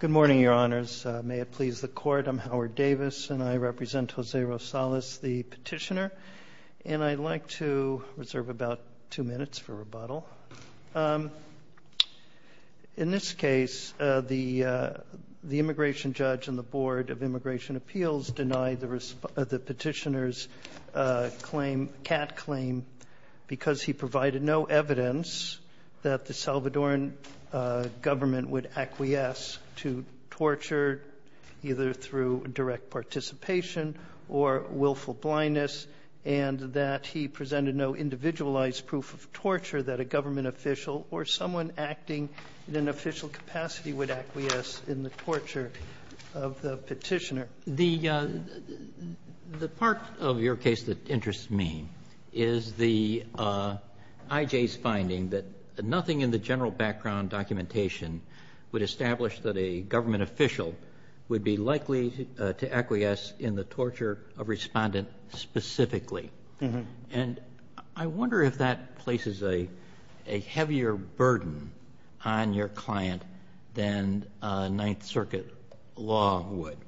Good morning, Your Honors. May it please the Court, I'm Howard Davis, and I represent Jose Rosales, the petitioner, and I'd like to reserve about two minutes for rebuttal. In this case, the immigration judge and the Board of Immigration Appeals denied the petitioner's claim, CAT claim, because he provided no evidence that the Salvadoran government would acquiesce to torture, either through direct participation or willful blindness, and that he presented no individualized proof of torture that a government official or someone acting in an official capacity would acquiesce in the torture of the petitioner. The part of your case that interests me is the IJ's finding that nothing in the general background documentation would establish that a government official would be likely to acquiesce in the torture of Respondent specifically, and I wonder if that places a heavier burden on your client than Ninth Circuit law would,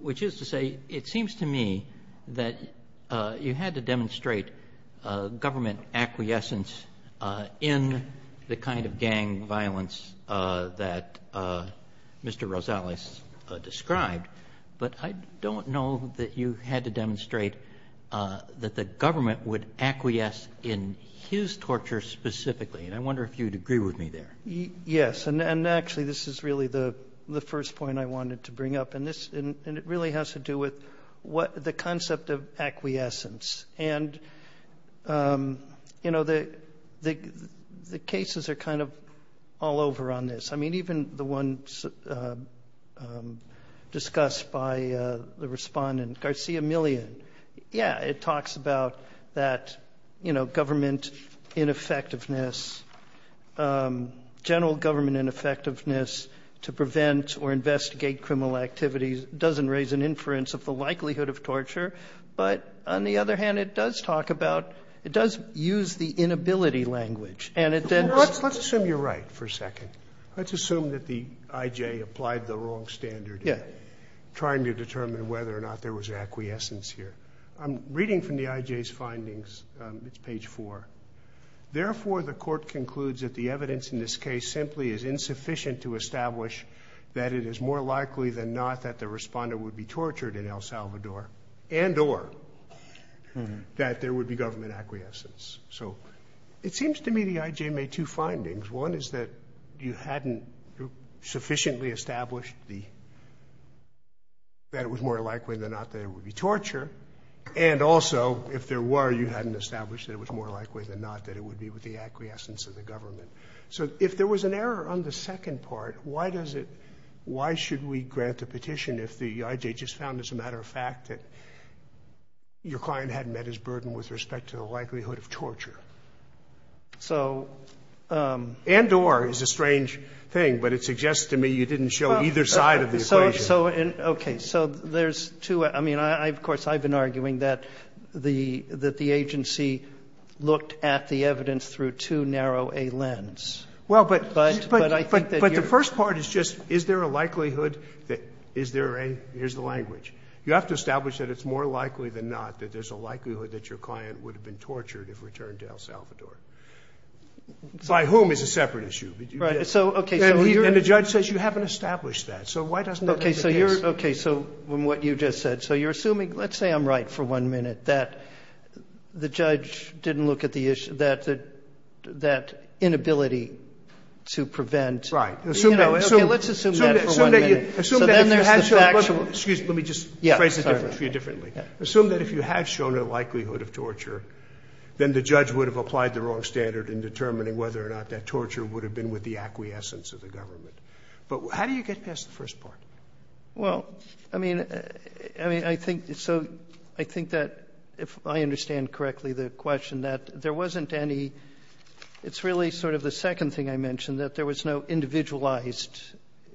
which is to say, it seems to me that you had to demonstrate government acquiescence in the kind of gang violence that Mr. Rosales described, but I don't know that you had to demonstrate that the government would acquiesce in his torture specifically, and I wonder if you'd agree with me there. Yes, and actually, this is really the first point I wanted to bring up, and it really has to do with the concept of acquiescence, and the cases are kind of all over on this. I mean, even the one discussed by the Respondent, Garcia Millian, yeah, it talks about that, you know, government ineffectiveness, general government ineffectiveness to prevent or investigate criminal activities doesn't raise an inference of the likelihood of torture, but on the other hand, it does talk about, it does use the inability language, and it then Let's assume you're right for a second. Let's assume that the I.J. applied the wrong standard in trying to determine whether or not there was acquiescence here. I'm reading from the I.J.'s findings, it's page 4. Therefore, the Court concludes that the evidence in this case simply is insufficient to establish that it is more likely than not that the Respondent would be tortured in El Salvador and or that there would be government acquiescence. So it seems to me the I.J. made two findings. One is that you hadn't sufficiently established that it was more likely than not that it would be torture, and also if there were, you hadn't established that it was more likely than not that it would be with the acquiescence of the government. So if there was an error on the second part, why does it, why should we grant a petition if the I.J. just found as a matter of fact that your client hadn't met his burden with respect to the likelihood of torture? So and or is a strange thing, but it suggests to me you didn't show either side of the equation. So, okay. So there's two, I mean, of course, I've been arguing that the agency looked at the evidence through too narrow a lens, but I think that you're. Well, but the first part is just is there a likelihood that is there a, here's the language. You have to establish that it's more likely than not that there's a likelihood that your client would have been tortured if returned to El Salvador. By whom is a separate issue. But you did. And the judge says you haven't established that. So why doesn't that make a case? Okay. So from what you just said. So you're assuming, let's say I'm right for one minute, that the judge didn't look at the issue, that that inability to prevent. Right. Assume that. Okay, let's assume that for one minute. Assume that if you had shown, excuse me, let me just phrase the term for you differently. Assume that if you had shown a likelihood of torture, then the judge would have applied the wrong standard in determining whether or not that torture would have been with the acquiescence of the government. But how do you get past the first part? Well, I mean, I think, so I think that if I understand correctly the question that there wasn't any, it's really sort of the second thing I mentioned, that there was no individualized,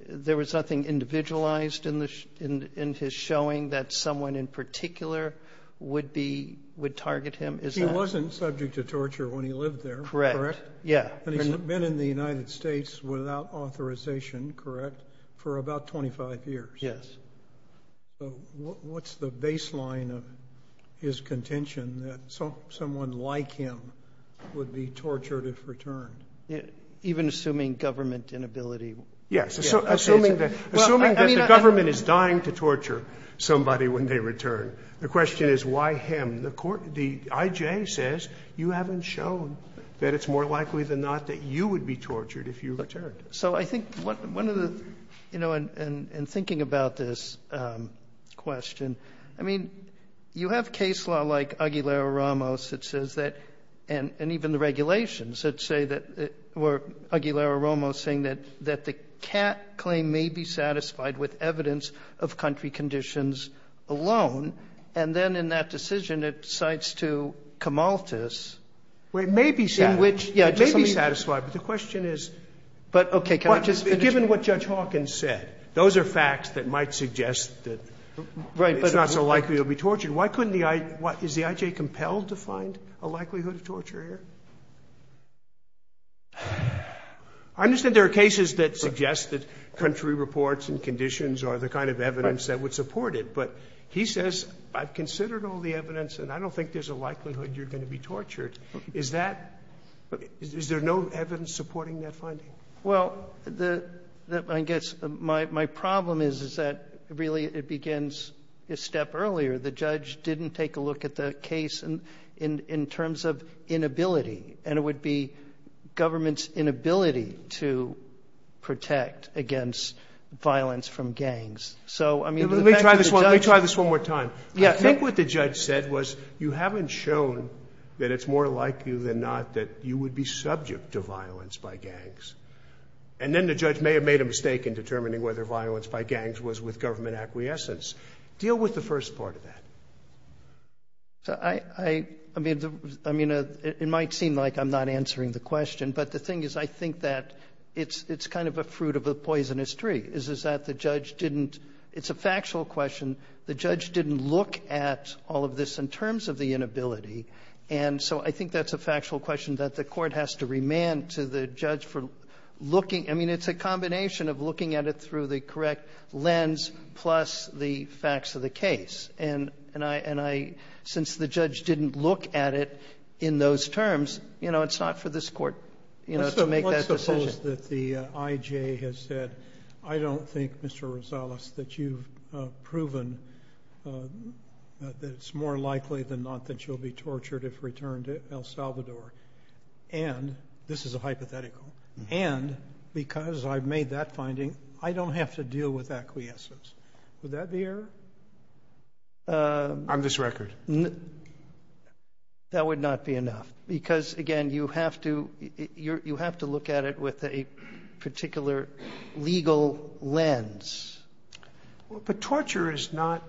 there was nothing individualized in his showing that someone in particular would be, would target him. He wasn't subject to torture when he lived there. Correct. Yeah. And he's been in the United States without authorization, correct, for about 25 years. Yes. So what's the baseline of his contention that someone like him would be tortured if returned? Even assuming government inability. Yes. Assuming that the government is dying to torture somebody when they return, the question is why him. The court, the I.J. says you haven't shown that it's more likely than not that you would be tortured if you returned. So I think one of the, you know, in thinking about this question, I mean, you have case law like Aguilera-Ramos that says that, and even the regulations that say that, or Aguilera-Ramos saying that the Catt claim may be satisfied with evidence of country conditions alone. And then in that decision it cites to Camaltas. Well, it may be satisfied. Yeah. It may be satisfied, but the question is, given what Judge Hawkins said, those are facts that might suggest that it's not so likely you'll be tortured. Why couldn't the I.J. Is the I.J. compelled to find a likelihood of torture here? I understand there are cases that suggest that country reports and conditions are the kind of evidence that would support it, but he says I've considered all the evidence and I don't think there's a likelihood you're going to be tortured. Is that Is there no evidence supporting that finding? Well, the I guess my problem is, is that really it begins a step earlier. The judge didn't take a look at the case in terms of inability, and it would be government's inability to protect against violence from gangs. So, I mean, to the effect that the judge Let me try this one more time. I think what the judge said was you haven't shown that it's more likely than not that you would be subject to violence by gangs. And then the judge may have made a mistake in determining whether violence by gangs was with government acquiescence. Deal with the first part of that. I mean, it might seem like I'm not answering the question, but the thing is I think that it's kind of a fruit of a poisonous tree, is that the judge didn't It's a factual question. The judge didn't look at all of this in terms of the inability. And so I think that's a factual question that the Court has to remand to the judge for looking I mean, it's a combination of looking at it through the correct lens plus the facts of the case. And I, since the judge didn't look at it in those terms, you know, it's not for this Court, you know, to make that decision. Let's suppose that the IJ has said, I don't think, Mr. Rosales, that you've proven that it's more likely than not that you'll be tortured if returned to El Salvador. And, this is a hypothetical, and because I've made that finding, I don't have to deal with acquiescence. Would that be error? On this record? That would not be enough, because again, you have to, you have to look at it with a particular legal lens. But torture is not,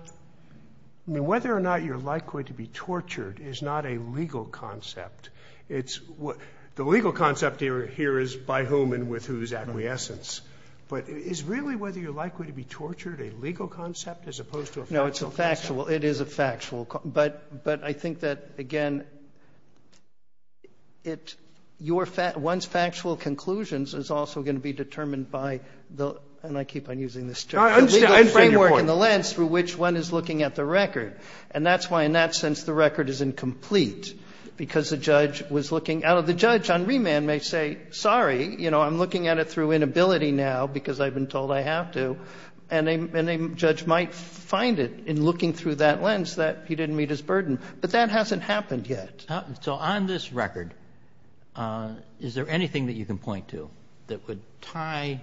I mean, whether or not you're likely to be tortured is not a legal concept. It's what the legal concept here is by whom and with whose acquiescence. But it's really whether you're likely to be tortured, a legal concept as opposed to a factual concept. No, it's a factual, it is a factual, but, but I think that, again, it, your, one's factual conclusions is also going to be determined by the, and I keep on using this term, the legal framework and the lens through which one is looking at the record. And that's why, in that sense, the record is incomplete, because the judge was looking, out of the judge, on remand may say, sorry, you know, I'm looking at it through an ability now because I've been told I have to, and a, and a judge might find it in looking through that lens that he didn't meet his burden. But that hasn't happened yet. So on this record, is there anything that you can point to that would tie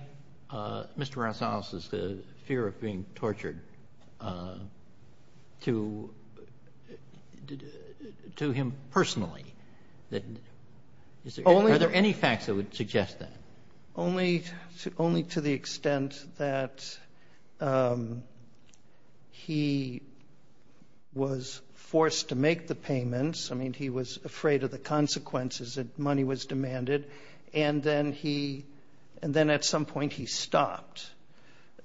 Mr. Rosales' fear of being tortured to, to him personally? That, is there, are there any facts that would suggest that? Only, only to the extent that he was forced to make the payments. I mean, he was afraid of the consequences that money was demanded, and then he, and then at some point he stopped,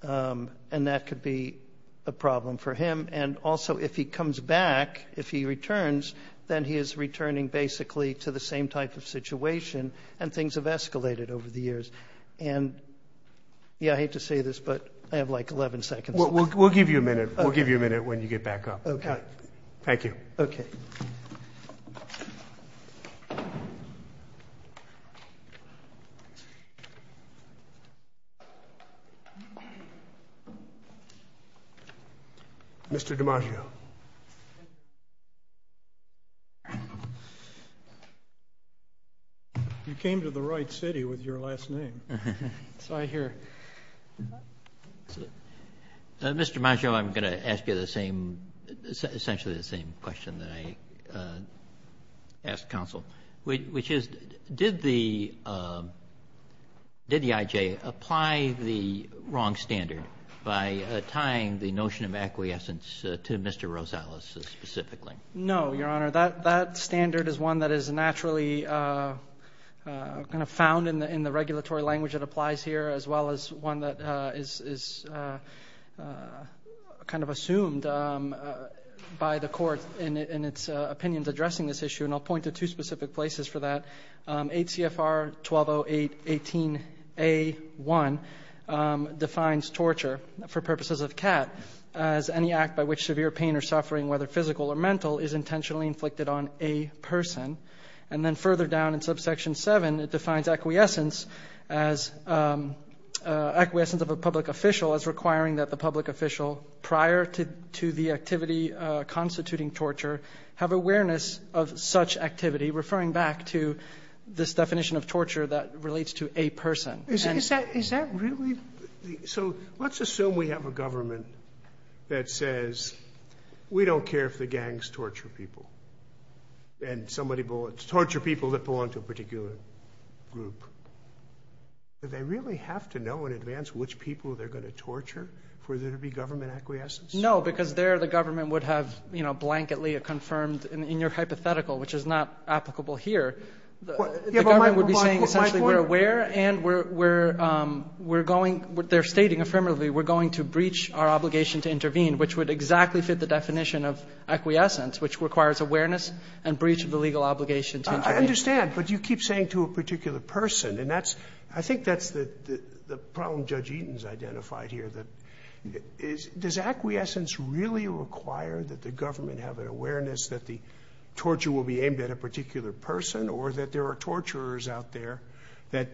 and that could be a problem for him. And also, if he comes back, if he returns, then he is returning basically to the same type of situation, and things have escalated over the years. And, yeah, I hate to say this, but I have like 11 seconds. We'll, we'll, we'll give you a minute. We'll give you a minute when you get back up. Okay. Thank you. Okay. Mr. DiMaggio. You came to the right city with your last name. So I hear. Mr. DiMaggio, I'm going to ask you the same, essentially the same question that I asked counsel, which is, did the, did the IJ apply the wrong standard by tying the notion of acquiescence to Mr. Rosales specifically? No, Your Honor. That, that standard is one that is naturally kind of found in the, in the regulatory language that applies here, as well as one that is kind of assumed by the court in its opinions addressing this issue. And I'll point to two specific places for that. 8 CFR 1208-18-A-1 defines torture for purposes of CAT as any act by which severe pain or suffering, whether physical or mental, is intentionally inflicted on a person. And then further down in subsection 7, it defines acquiescence as, acquiescence of a public official as requiring that the public official prior to, to the activity constituting torture have awareness of such activity. Referring back to this definition of torture that relates to a person. Is that, is that really? So let's assume we have a government that says, we don't care if the gangs torture people. And somebody bullets, torture people that belong to a particular group. Do they really have to know in advance which people they're going to torture for there to be government acquiescence? No, because there the government would have, you know, blanketly confirmed in your hypothetical, which is not applicable here. The government would be saying essentially we're aware and we're, we're, we're going, they're stating affirmatively, we're going to breach our obligation to intervene, which would exactly fit the definition of acquiescence, which requires awareness and breach of the legal obligation to intervene. I understand, but you keep saying to a particular person and that's, I think that's the, the problem Judge Eaton's identified here. That is, does acquiescence really require that the government have an awareness that the torture will be aimed at a particular person or that there are torturers out there that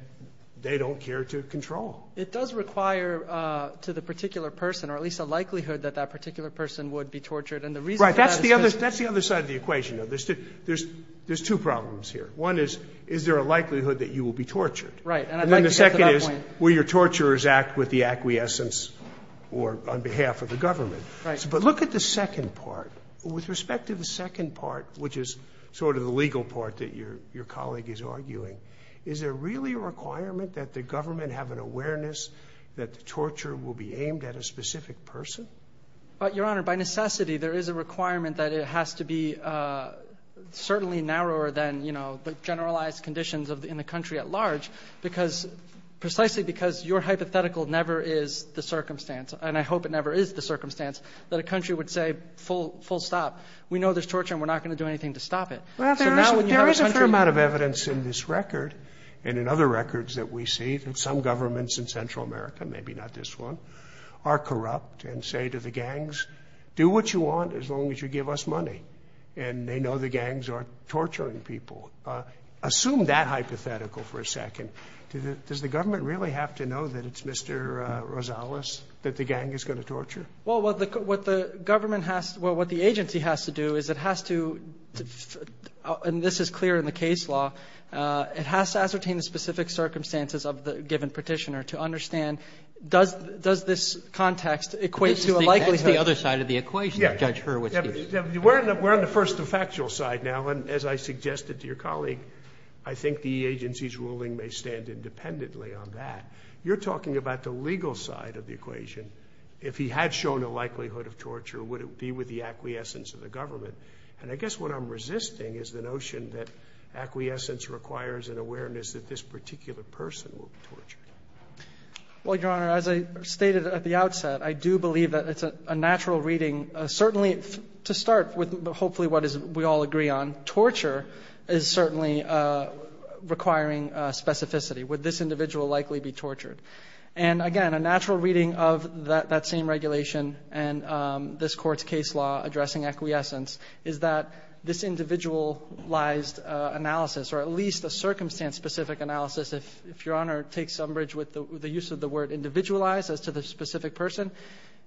they don't care to control? It does require to the particular person or at least a likelihood that that particular person would be tortured. And the reason that's the other, that's the other side of the equation. Now, there's two, there's, there's two problems here. One is, is there a likelihood that you will be tortured? Right. And then the second is, will your torturers act with the acquiescence or on behalf of the government? Right. But look at the second part with respect to the second part, which is sort of the legal part that your, your colleague is arguing. Is there really a requirement that the government have an awareness that the torture will be aimed at a specific person? But Your Honor, by necessity, there is a requirement that it has to be certainly narrower than, you know, the generalized conditions of the, in the country at large. Because, precisely because your hypothetical never is the circumstance, and I hope it never is the circumstance, that a country would say full, full stop. We know there's torture and we're not going to do anything to stop it. Well, there is a fair amount of evidence in this record and in other records that we see that some governments in Central America, maybe not this one, are corrupt and say to the gangs, do what you want as long as you give us money. And they know the gangs aren't torturing people. Assume that hypothetical for a second. Does the government really have to know that it's Mr. Rosales that the gang is going to torture? Well, what the government has to, well, what the agency has to do is it has to, and this is clear in the case law, it has to ascertain the specific circumstances of the given petitioner to understand, does this context equate to a likelihood? That's the other side of the equation, Judge Hurwitz. We're on the first de facto side now, and as I suggested to your colleague, I think the agency's ruling may stand independently on that. You're talking about the legal side of the equation. If he had shown a likelihood of torture, would it be with the acquiescence of the government? And I guess what I'm resisting is the notion that acquiescence requires an awareness that this particular person will be tortured. Well, Your Honor, as I stated at the outset, I do believe that it's a natural reading. Certainly, to start with, hopefully, what we all agree on, torture is certainly requiring specificity. Would this individual likely be tortured? And again, a natural reading of that same regulation and this Court's case law addressing acquiescence is that this individualized analysis, or at least a circumstance-specific analysis, if Your Honor takes umbrage with the use of the word individualized as to the specific person,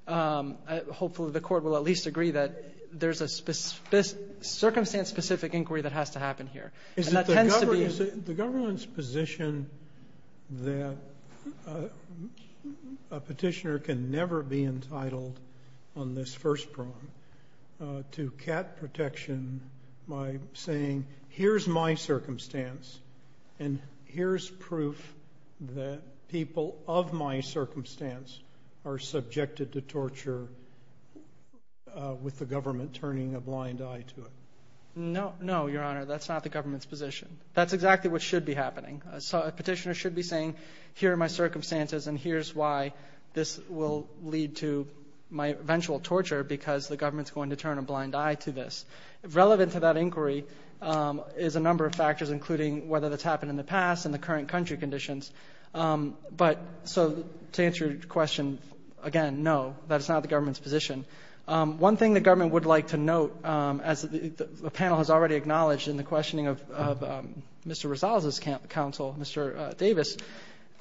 hopefully the Court will at least agree that there's a circumstance-specific inquiry that has to happen here. Is it the government's position that a petitioner can never be entitled on this first prong to cat protection by saying, here's my circumstance, and here's proof that people of my circumstance are subjected to torture with the government turning a blind eye to it? No, no, Your Honor, that's not the government's position. That's exactly what should be happening. So a petitioner should be saying, here are my circumstances, and here's why this will lead to my eventual torture, because the government's going to turn a blind eye to this. Relevant to that inquiry is a number of factors, including whether that's happened in the past and the current country conditions. But so to answer your question, again, no, that's not the government's position. One thing the government would like to note, as the panel has already acknowledged in the questioning of Mr. Rosales' counsel, Mr. Davis,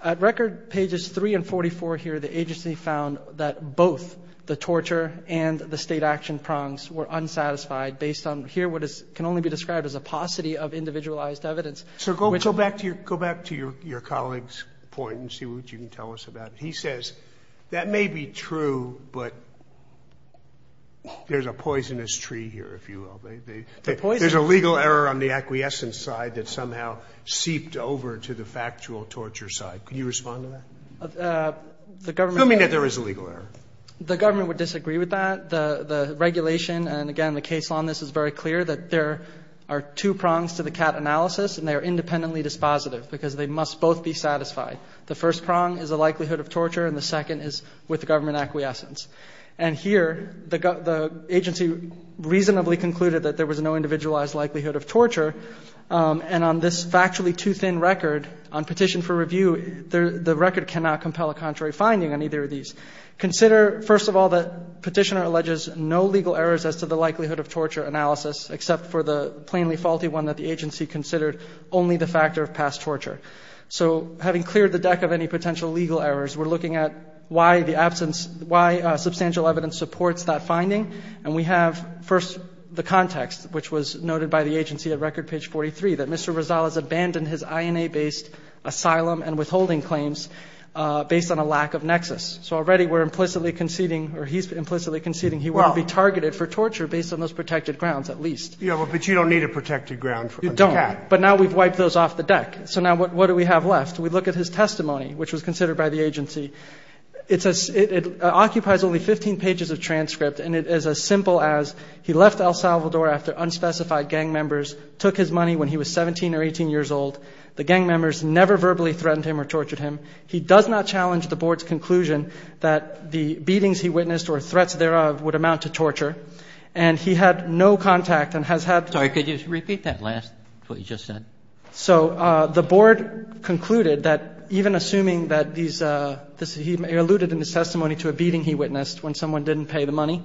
at record pages 3 and 44 here, the agency found that both the torture and the state action prongs were unsatisfied. Based on here, what can only be described as a paucity of individualized evidence. So go back to your colleague's point and see what you can tell us about it. He says, that may be true, but there's a poisonous tree here, if you will. There's a legal error on the acquiescence side that somehow seeped over to the factual torture side. Can you respond to that? Who mean that there is a legal error? The government would disagree with that. The regulation, and again, the case on this is very clear, that there are two prongs to the CAT analysis, and they are independently dispositive because they must both be satisfied. The first prong is the likelihood of torture, and the second is with the government acquiescence. And here, the agency reasonably concluded that there was no individualized likelihood of torture. And on this factually too thin record, on petition for review, the record cannot compel a contrary finding on either of these. Consider, first of all, the petitioner alleges no legal errors as to the likelihood of torture analysis, except for the plainly faulty one that the agency considered only the factor of past torture. So having cleared the deck of any potential legal errors, we're looking at why the absence, why substantial evidence supports that finding. And we have first the context, which was noted by the agency at record page 43, that Mr. Rizal has abandoned his INA based asylum and withholding claims based on a lack of nexus. So already we're implicitly conceding, or he's implicitly conceding, he won't be targeted for torture based on those protected grounds, at least. Yeah, but you don't need a protected ground. You don't, but now we've wiped those off the deck. So now what do we have left? We look at his testimony, which was considered by the agency. It occupies only 15 pages of transcript, and it is as simple as he left El Salvador after unspecified gang members took his money when he was 17 or 18 years old. The gang members never verbally threatened him or tortured him. He does not challenge the board's conclusion that the beatings he witnessed or threats thereof would amount to torture. And he had no contact and has had. Sorry, could you repeat that last, what you just said? So the board concluded that even assuming that these, he alluded in his testimony to a beating he witnessed when someone didn't pay the money.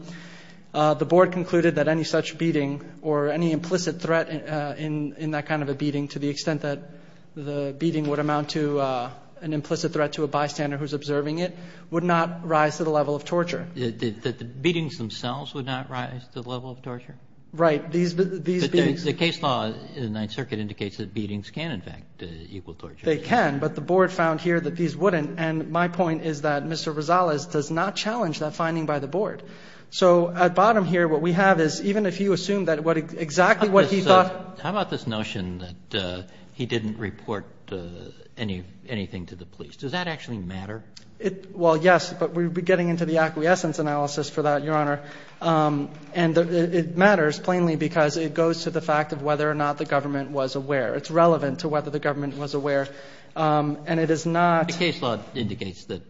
The board concluded that any such beating or any implicit threat in that kind of a beating, to the extent that the beating would amount to an implicit threat to a bystander who's observing it, would not rise to the level of torture. That the beatings themselves would not rise to the level of torture? Right. These, the case law in the Ninth Circuit indicates that beatings can, in fact, equal torture. They can, but the board found here that these wouldn't. And my point is that Mr. Rosales does not challenge that finding by the board. So at bottom here, what we have is even if you assume that what exactly what he thought, how about this notion that he didn't report any, anything to the police? Does that actually matter? Well, yes, but we would be getting into the acquiescence analysis for that, Your Honor. And it matters plainly because it goes to the fact of whether or not the government was aware. It's relevant to whether the government was aware. And it is not. The case law indicates that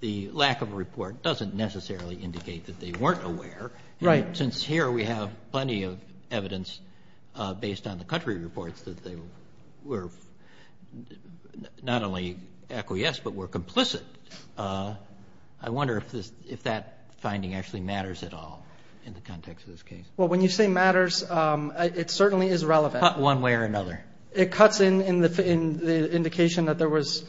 the lack of a report doesn't necessarily indicate that they weren't aware. Right. Since here we have plenty of evidence based on the country reports that they were not only acquiesced, but were complicit. I wonder if this, if that finding actually matters at all in the context of this case. Well, when you say matters, it certainly is relevant one way or another. It cuts in the indication that there was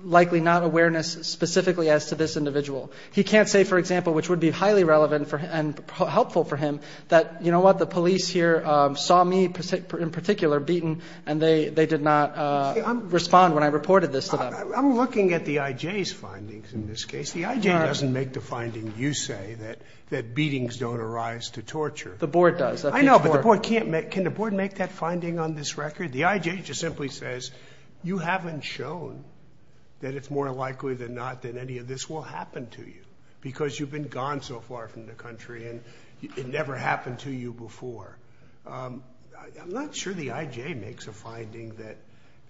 likely not awareness specifically as to this individual. He can't say, for example, which would be highly relevant and helpful for him, that, you know what, the police here saw me in particular beaten and they did not respond when I reported this to them. I'm looking at the IJ's findings in this case. The IJ doesn't make the finding, you say, that beatings don't arise to torture. The board does. I know, but the board can't make, can the board make that finding on this record? The IJ just simply says, you haven't shown that it's more likely than not that any of this will happen to you because you've been gone so far from the country and it never happened to you before. I'm not sure the IJ makes a finding that,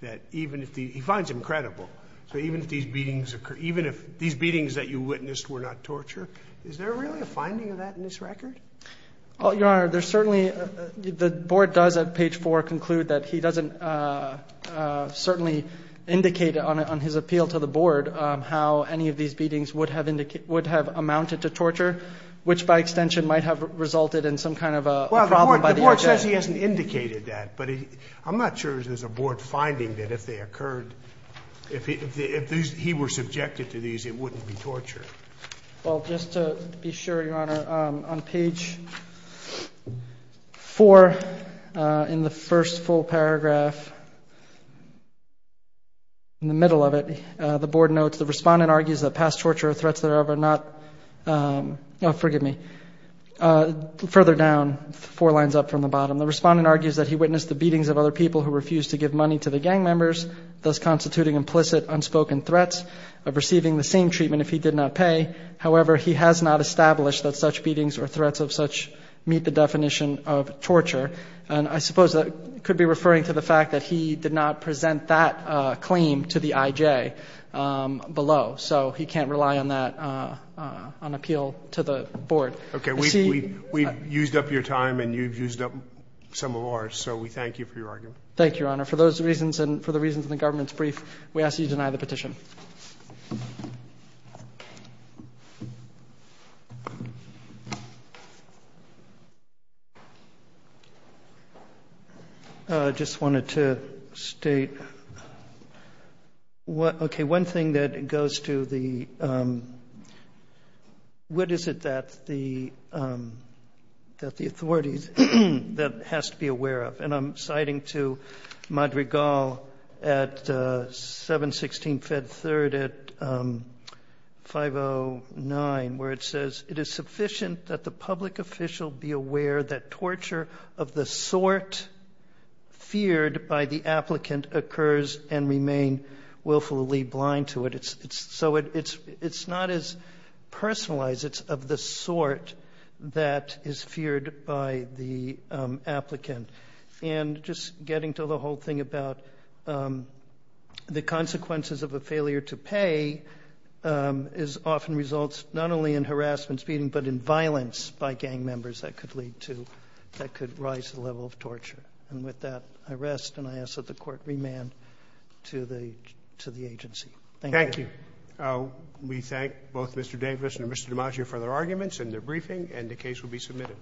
that even if the, he finds him credible. So even if these beatings occur, even if these beatings that you witnessed were not torture, is there really a finding of that in this record? Well, Your Honor, there's certainly, the board does at page four conclude that he doesn't certainly indicate on his appeal to the board how any of these beatings would have amounted to torture, which by extension might have resulted in some kind of a problem by the IJ. He says he hasn't indicated that, but I'm not sure there's a board finding that if they occurred, if he were subjected to these, it wouldn't be torture. Well, just to be sure, Your Honor, on page four in the first full paragraph, in the middle of it, the board notes, the respondent argues that past torture or threats thereof are not, oh, forgive me, further down, four lines up from the bottom, the respondent argues that he witnessed the beatings of other people who refused to give money to the gang members, thus constituting implicit unspoken threats of receiving the same treatment if he did not pay. However, he has not established that such beatings or threats of such meet the definition of torture. And I suppose that could be referring to the fact that he did not present that claim to the IJ below. So he can't rely on that, on appeal to the board. Okay, we've used up your time and you've used up some of ours, so we thank you for your argument. Thank you, Your Honor. For those reasons and for the reasons in the government's brief, we ask that you deny the petition. I just wanted to state, okay, one thing that goes to the, what is it that the, that the authorities, that has to be aware of, and I'm citing to Madrigal at 716 Fed 3rd at 509, where it says, it is sufficient that the public official be aware that torture of the sort feared by the applicant occurs and remain willfully blind to it. It's, it's, so it's, it's not as personalized. It's of the sort that is feared by the applicant. And just getting to the whole thing about the consequences of a failure to pay is often results, not only in harassment speeding, but in violence by gang members that could lead to, that could rise the level of torture. And with that, I rest and I ask that the court remand to the, to the agency. Thank you. We thank both Mr. Davis and Mr. DiMaggio for their arguments and their briefing and the case will be submitted.